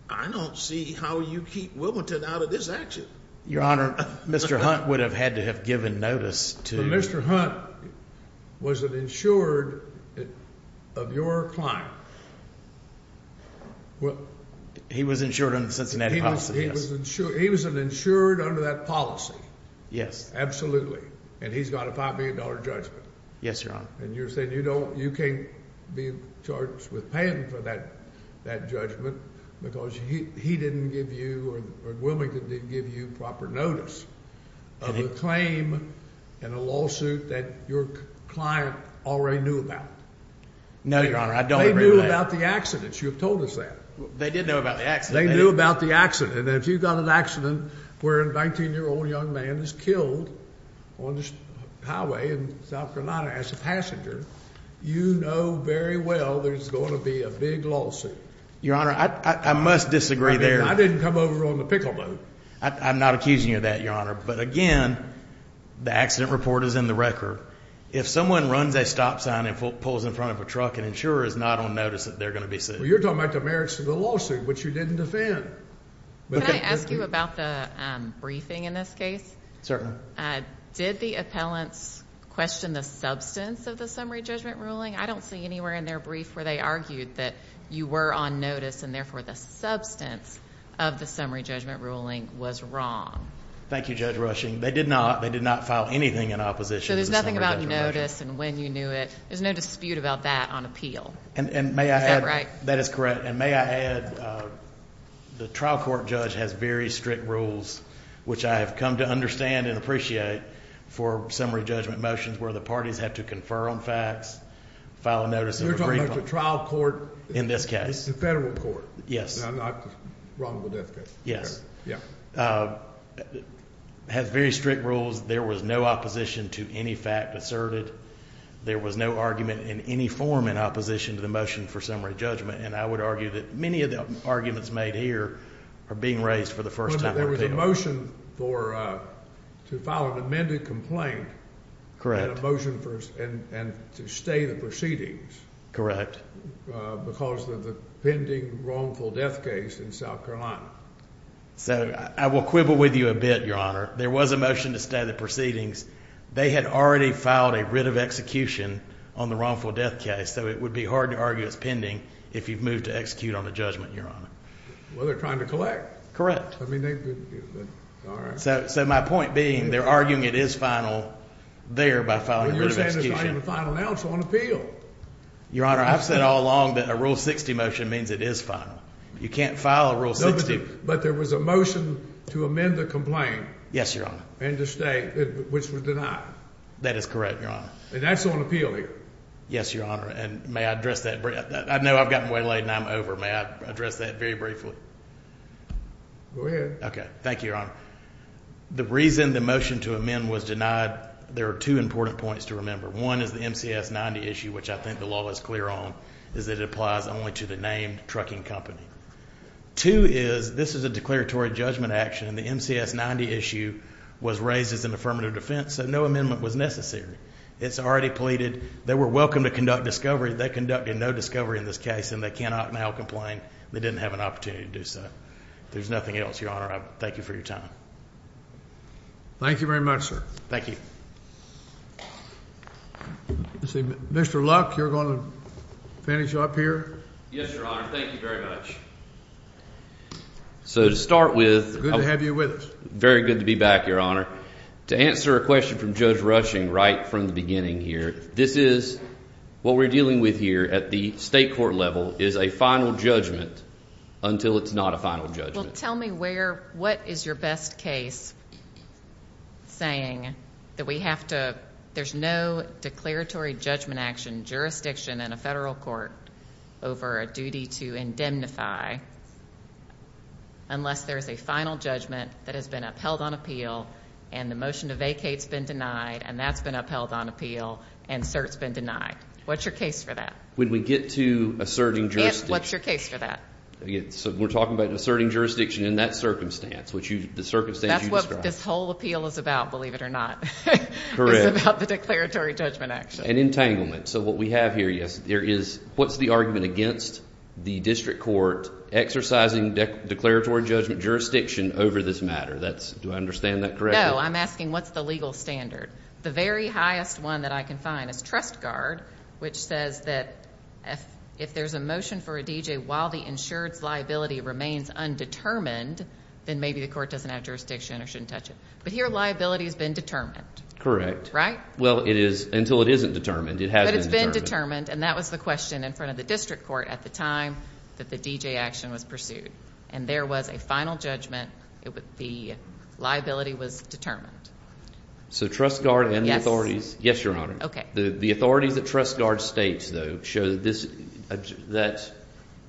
I don't see how you keep Wilmington out of this action. Your Honor, Mr. Hunt would have had to have given notice to- Mr. Hunt, was it insured of your client? Well, he was insured under the Cincinnati policy, yes. He was insured under that policy. Yes. Absolutely. And he's got a $5 million judgment. Yes, Your Honor. And you're saying you can't be charged with paying for that judgment because he didn't give you or Wilmington didn't give you proper notice of a claim and a lawsuit that your client already knew about. No, Your Honor. They knew about the accident. You've told us that. They did know about the accident. They knew about the accident. And if you've got an accident where a 19-year-old young man is killed on a highway in South Carolina as a passenger, you know very well there's going to be a big lawsuit. Your Honor, I must disagree there. I didn't come over on the pickle boat. I'm not accusing you of that, Your Honor. But again, the accident report is in the record. If someone runs a stop sign and pulls in front of a truck, an insurer is not on notice that they're going to be sued. Well, you're talking about the merits of the lawsuit, which you didn't defend. Can I ask you about the briefing in this case? Certainly. Did the appellants question the substance of the summary judgment ruling? I don't see anywhere in their brief where they argued that you were on notice and therefore the substance of the summary judgment ruling was wrong. Thank you, Judge Rushing. They did not. They did not file anything in opposition. So there's nothing about notice and when you knew it. There's no dispute about that on appeal. Is that right? That is correct. And may I add, the trial court judge has very strict rules, which I have come to understand and appreciate for summary judgment motions where the parties have to confer on facts, file a notice of agreement. You're talking about the trial court. In this case. The federal court. Yes. Not the wrongful death case. Yes. Yeah. It has very strict rules. There was no opposition to any fact asserted. There was no argument in any form in opposition to the motion for summary judgment. And I would argue that many of the arguments made here are being raised for the first time. There was a motion for to file an amended complaint. Correct. Motion for and to stay the proceedings. Correct. Because of the pending wrongful death case in South Carolina. So I will quibble with you a bit, Your Honor. There was a motion to stay the proceedings. They had already filed a writ of execution on the wrongful death case. So it would be hard to argue it's pending if you've moved to execute on the judgment, Your Honor. Well, they're trying to collect. I mean, all right. So my point being, they're arguing it is final there by filing a writ of execution. Well, you're saying it's not even final now, it's on appeal. Your Honor, I've said all along that a Rule 60 motion means it is final. You can't file a Rule 60. But there was a motion to amend the complaint. Yes, Your Honor. And to stay, which was denied. That is correct, Your Honor. And that's on appeal here. Yes, Your Honor. And may I address that? I know I've gotten way late and I'm over. May I address that very briefly? Go ahead. Okay. Thank you, Your Honor. The reason the motion to amend was denied, there are two important points to remember. One is the MCS 90 issue, which I think the law is clear on, is that it applies only to the named trucking company. Two is, this is a declaratory judgment action. And the MCS 90 issue was raised as an affirmative defense. So no amendment was necessary. It's already pleaded. They were welcome to conduct discovery. They conducted no discovery in this case. And they cannot now complain. They didn't have an opportunity to do so. There's nothing else, Your Honor. I thank you for your time. Thank you very much, sir. Thank you. Mr. Luck, you're going to finish up here? Yes, Your Honor. Thank you very much. Good to have you with us. So to start with, very good to be back, Your Honor. To answer a question from Judge Rushing right from the beginning here, this is what we're dealing with here at the state court level is a final judgment until it's not a final judgment. Well, tell me where, what is your best case saying that we have to, there's no declaratory judgment action jurisdiction in a federal court over a duty to indemnify unless there's a final judgment that has been upheld on appeal and the motion to vacate has been denied and that's been upheld on appeal and cert's been denied. What's your case for that? When we get to asserting jurisdiction. What's your case for that? So we're talking about asserting jurisdiction in that circumstance, which you, the circumstance you described. That's what this whole appeal is about, believe it or not. Correct. It's about the declaratory judgment action. And entanglement. So what we have here, yes, there is, what's the argument against the district court exercising declaratory judgment jurisdiction over this matter? That's, do I understand that correctly? No, I'm asking what's the legal standard? The very highest one that I can find is Trust Guard, which says that if there's a motion for a DJ while the insured's liability remains undetermined, then maybe the court doesn't have jurisdiction or shouldn't touch it. But here liability has been determined. Correct. Right? Well, it is until it isn't determined. But it's been determined. And that was the question in front of the district court at the time that the DJ action was pursued. And there was a final judgment. The liability was determined. So Trust Guard and the authorities. Yes, Your Honor. OK. The authorities that Trust Guard states, though, show that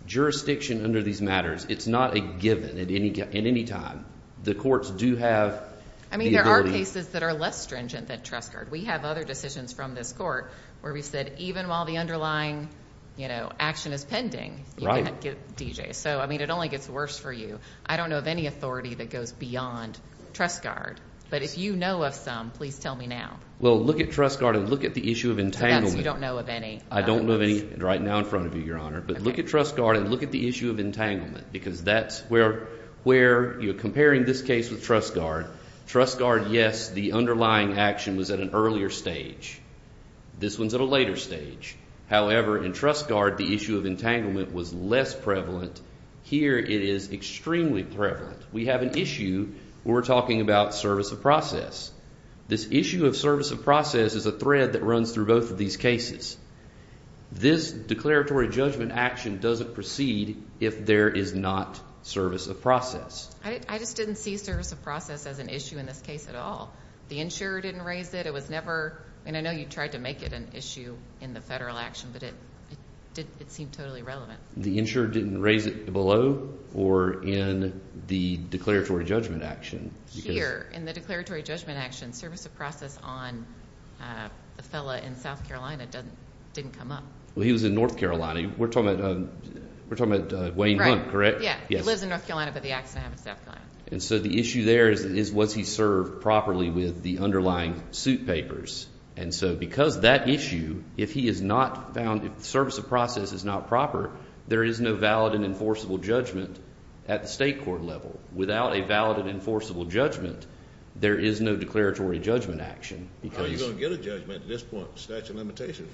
jurisdiction under these matters, it's not a given at any time. The courts do have the ability. I mean, there are cases that are less stringent than Trust Guard. We have other decisions from this court where we've said, even while the underlying, you know, action is pending, you can't get DJs. So, I mean, it only gets worse for you. I don't know of any authority that goes beyond Trust Guard. But if you know of some, please tell me now. Well, look at Trust Guard and look at the issue of entanglement. You don't know of any? I don't know of any right now in front of you, Your Honor. But look at Trust Guard and look at the issue of entanglement. Because that's where you're comparing this case with Trust Guard. Trust Guard, yes, the underlying action was at an earlier stage. This one's at a later stage. However, in Trust Guard, the issue of entanglement was less prevalent. Here, it is extremely prevalent. We have an issue where we're talking about service of process. This issue of service of process is a thread that runs through both of these cases. This declaratory judgment action doesn't proceed if there is not service of process. I just didn't see service of process as an issue in this case at all. The insurer didn't raise it. It was never, and I know you tried to make it an issue in the federal action, but it seemed totally irrelevant. The insurer didn't raise it below or in the declaratory judgment action? Here, in the declaratory judgment action, service of process on the fella in South Carolina didn't come up. Well, he was in North Carolina. We're talking about Wayne Hunt, correct? Yeah, he lives in North Carolina, but the accident happened in South Carolina. The issue there is, was he served properly with the underlying suit papers? Because that issue, if he is not found, if the service of process is not proper, there is no valid and enforceable judgment at the state court level. Without a valid and enforceable judgment, there is no declaratory judgment action. How are you going to get a judgment at this point with statute of limitations?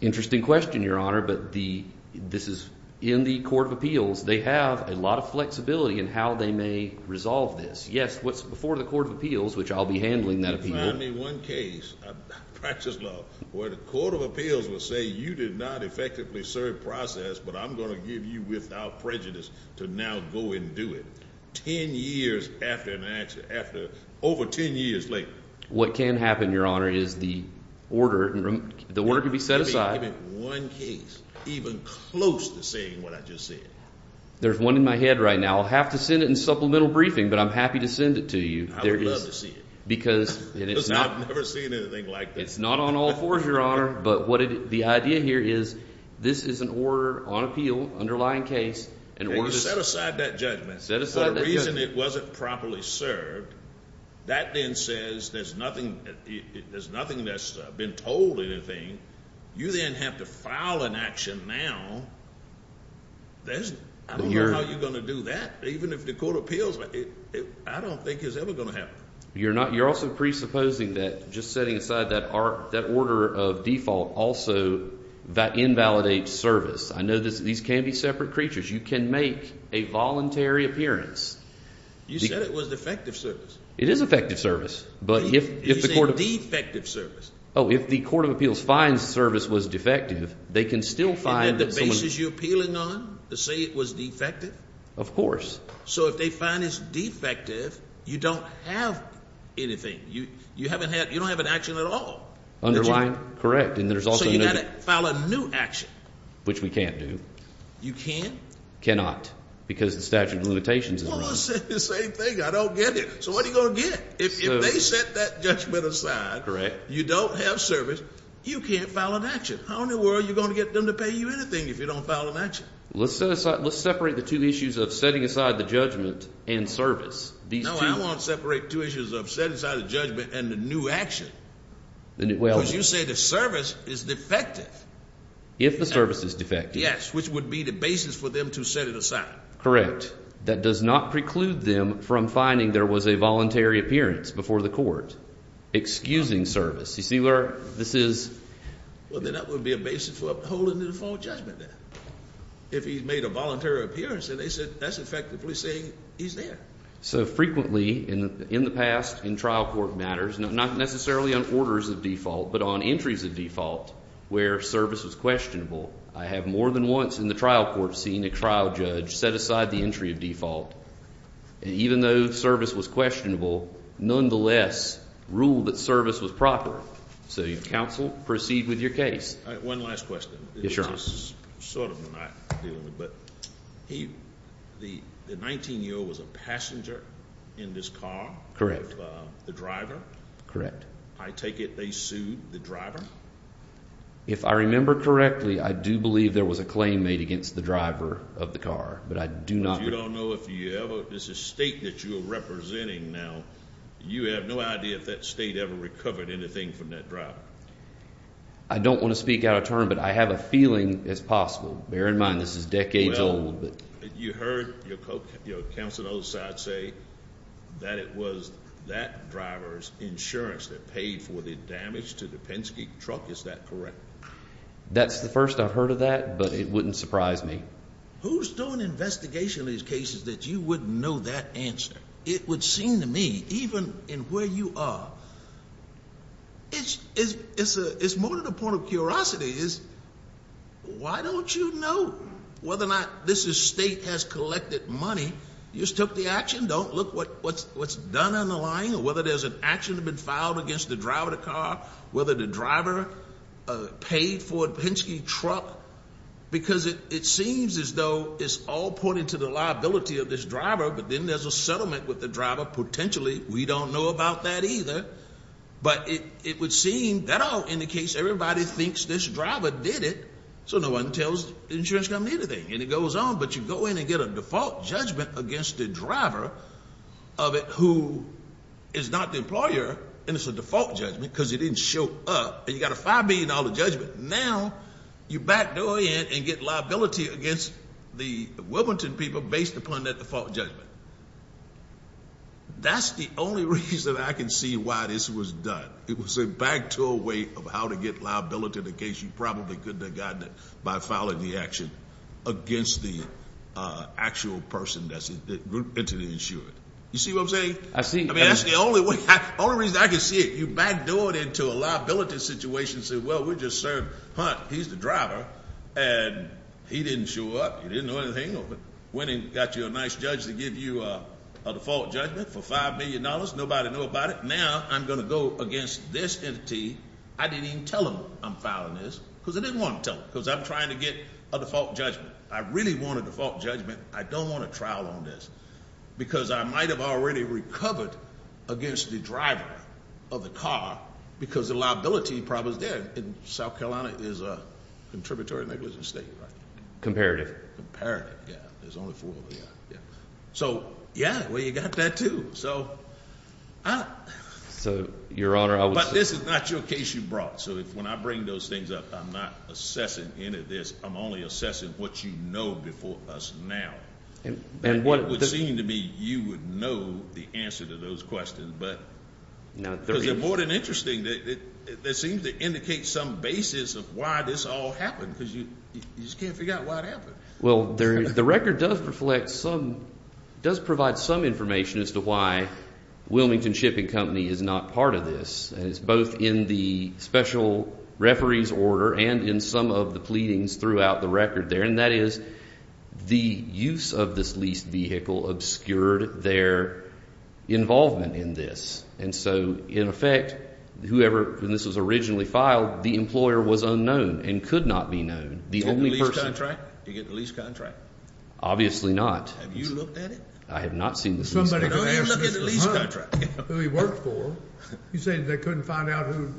Interesting question, Your Honor, but this is in the Court of Appeals. They have a lot of flexibility in how they may resolve this. Yes, what's before the Court of Appeals, which I'll be handling that appeal. If you find me one case, I practice love, where the Court of Appeals will say, you did not effectively serve process, but I'm going to give you without prejudice to now go and do it. 10 years after an accident, over 10 years later. What can happen, Your Honor, is the order can be set aside. One case, even close to saying what I just said. There's one in my head right now. I'll have to send it in supplemental briefing, but I'm happy to send it to you. I would love to see it. Because it is not. I've never seen anything like this. It's not on all fours, Your Honor, but what the idea here is, this is an order on appeal, underlying case, in order to. Set aside that judgment. Set aside that judgment. The reason it wasn't properly served, that then says there's nothing that's been told or anything. You then have to file an action now. I don't know how you're going to do that. Even if the Court of Appeals. I don't think it's ever going to happen. You're not. You're also presupposing that just setting aside that order of default. Also, that invalidates service. I know these can be separate creatures. You can make a voluntary appearance. You said it was effective service. It is effective service. But if the Court of. Defective service. Oh, if the Court of Appeals finds service was defective, they can still find. And then the basis you're appealing on, to say it was defective? Of course. So if they find it's defective, you don't have anything. You don't have an action at all. Underlined. Correct. And there's also. So you got to file a new action. Which we can't do. You can? Cannot. Because the statute of limitations is wrong. Well, I said the same thing. I don't get it. So what are you going to get? If they set that judgment aside. Correct. You don't have service. You can't file an action. How in the world are you going to get them to pay you anything if you don't file an action? Let's set aside. Let's separate the two issues of setting aside the judgment and service. These two. No, I won't separate two issues of setting aside the judgment and the new action. Because you say the service is defective. If the service is defective. Yes. Which would be the basis for them to set it aside. Correct. That does not preclude them from finding there was a voluntary appearance before the Court. Excusing service. You see where this is. Well, then that would be a basis for upholding the default judgment then. If he made a voluntary appearance and they said that's effectively saying he's there. So frequently in the past in trial court matters, not necessarily on orders of default, but on entries of default where service was questionable. I have more than once in the trial court seen a trial judge set aside the entry of default. Even though service was questionable, nonetheless, rule that service was proper. So, counsel, proceed with your case. One last question. Yes, Your Honor. The 19-year-old was a passenger in this car? Correct. The driver? Correct. I take it they sued the driver? If I remember correctly, I do believe there was a claim made against the driver of the car. But I do not. You don't know if you ever. This is a state that you're representing now. You have no idea if that state ever recovered anything from that driver. I don't want to speak out of turn, but I have a feeling it's possible. Bear in mind, this is decades old. You heard your counsel on the other side say that it was that driver's insurance that paid for the damage to the Penske truck. Is that correct? That's the first I've heard of that, but it wouldn't surprise me. Who's doing an investigation of these cases that you wouldn't know that answer? It would seem to me, even in where you are, it's more than a point of curiosity. Why don't you know whether or not this state has collected money? You just took the action. Don't look what's done on the line or whether there's an action that's been filed against the driver of the car, whether the driver paid for a Penske truck. Because it seems as though it's all pointed to the liability of this driver, but then there's a settlement with the driver. Potentially, we don't know about that either, but it would seem that all indicates everybody thinks this driver did it, so no one tells the insurance company anything, and it goes on. But you go in and get a default judgment against the driver of it who is not the employer, and it's a default judgment because he didn't show up, and you got a $5 billion judgment. Now, you backdoor in and get liability against the Wilmington people based upon that default judgment. That's the only reason I can see why this was done. It was a backdoor way of how to get liability in the case. You probably could have gotten it by filing the action against the actual person that entered the insurance. You see what I'm saying? I see. I mean, that's the only reason I can see it. You backdoor it into a liability situation and say, well, we just served Hunt. He's the driver, and he didn't show up. He didn't know anything of it. Went and got you a nice judge to give you a default judgment for $5 billion. Nobody knew about it. Now, I'm going to go against this entity. I didn't even tell them I'm filing this because I didn't want to tell them because I'm trying to get a default judgment. I really want a default judgment. I don't want a trial on this because I might have already recovered against the driver of the car because the liability problem is there. In South Carolina, there's a contributory negligence state, right? Comparative. Comparative, yeah. There's only four of them, yeah. Yeah. So, yeah, well, you got that, too. So I... So, Your Honor, I was... But this is not your case you brought. So when I bring those things up, I'm not assessing any of this. I'm only assessing what you know before us now. And what it would seem to me you would know the answer to those questions. Because they're more than interesting. They seem to indicate some basis of why this all happened because you just can't figure out why it happened. Well, the record does reflect some... Does provide some information as to why Wilmington Shipping Company is not part of this. And it's both in the special referee's order and in some of the pleadings throughout the record there. And that is, the use of this leased vehicle obscured their involvement in this. And so, in effect, whoever... When this was originally filed, the employer was unknown and could not be known. The only person... Did you get the lease contract? Obviously not. Have you looked at it? I have not seen the lease contract. Don't you look at the lease contract? Who he worked for. You're saying they couldn't find out who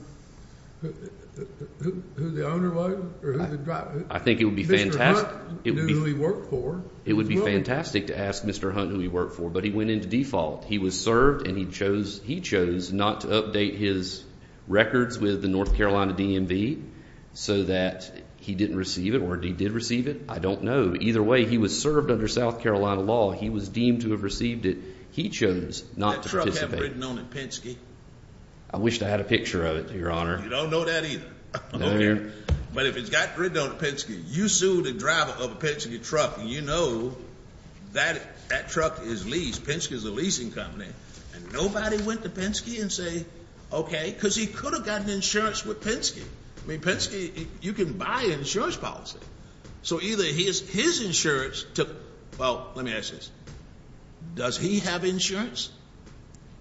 the owner was? Or who the driver... I think it would be fantastic... Mr. Hunt knew who he worked for. It would be fantastic to ask Mr. Hunt who he worked for. But he went into default. He was served and he chose not to update his records with the North Carolina DMV so that he didn't receive it or he did receive it. I don't know. Either way, he was served under South Carolina law. He was deemed to have received it. He chose not to participate. That truck have written on it, Penske? I wish I had a picture of it, Your Honor. You don't know that either. No, I don't. But if it's got written on it, Penske, you sue the driver of a Penske truck and you know that that truck is leased. Penske is a leasing company. And nobody went to Penske and say, okay... Because he could have gotten insurance with Penske. I mean, Penske, you can buy insurance policy. So either his insurance took... Well, let me ask you this. Does he have insurance?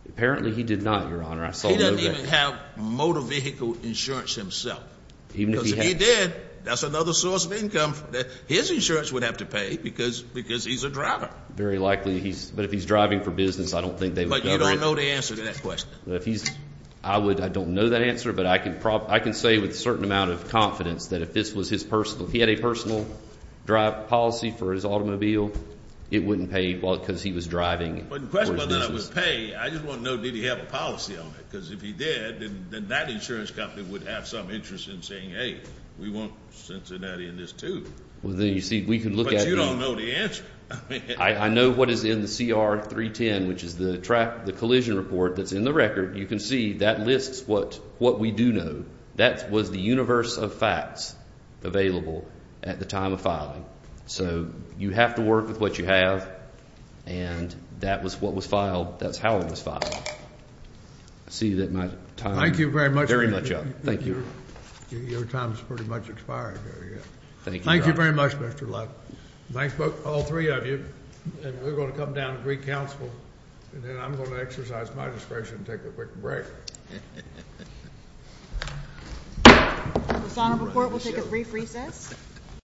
Apparently, he did not, Your Honor. He doesn't even have motor vehicle insurance himself. Even if he had... Because if he did, that's another source of income that his insurance would have to pay because he's a driver. Very likely. But if he's driving for business, I don't think they would... But you don't know the answer to that question. I don't know that answer, but I can say with a certain amount of confidence that if this was his personal... If he had a personal drive policy for his automobile, it wouldn't pay because he was driving for his business. But then I would pay. I just want to know, did he have a policy on it? Because if he did, then that insurance company would have some interest in saying, hey, we want Cincinnati in this too. Well, then you see, we can look at... But you don't know the answer. I know what is in the CR 310, which is the track, the collision report that's in the record. You can see that lists what we do know. That was the universe of facts available at the time of filing. So you have to work with what you have. And that was what was filed. That's how it was filed. I see that my time is very much up. Thank you. Your time has pretty much expired. Thank you very much, Mr. Luck. Thanks to all three of you. We're going to come down to Greek Council, and then I'm going to exercise my discretion and take a quick break. This honorable court will take a brief recess.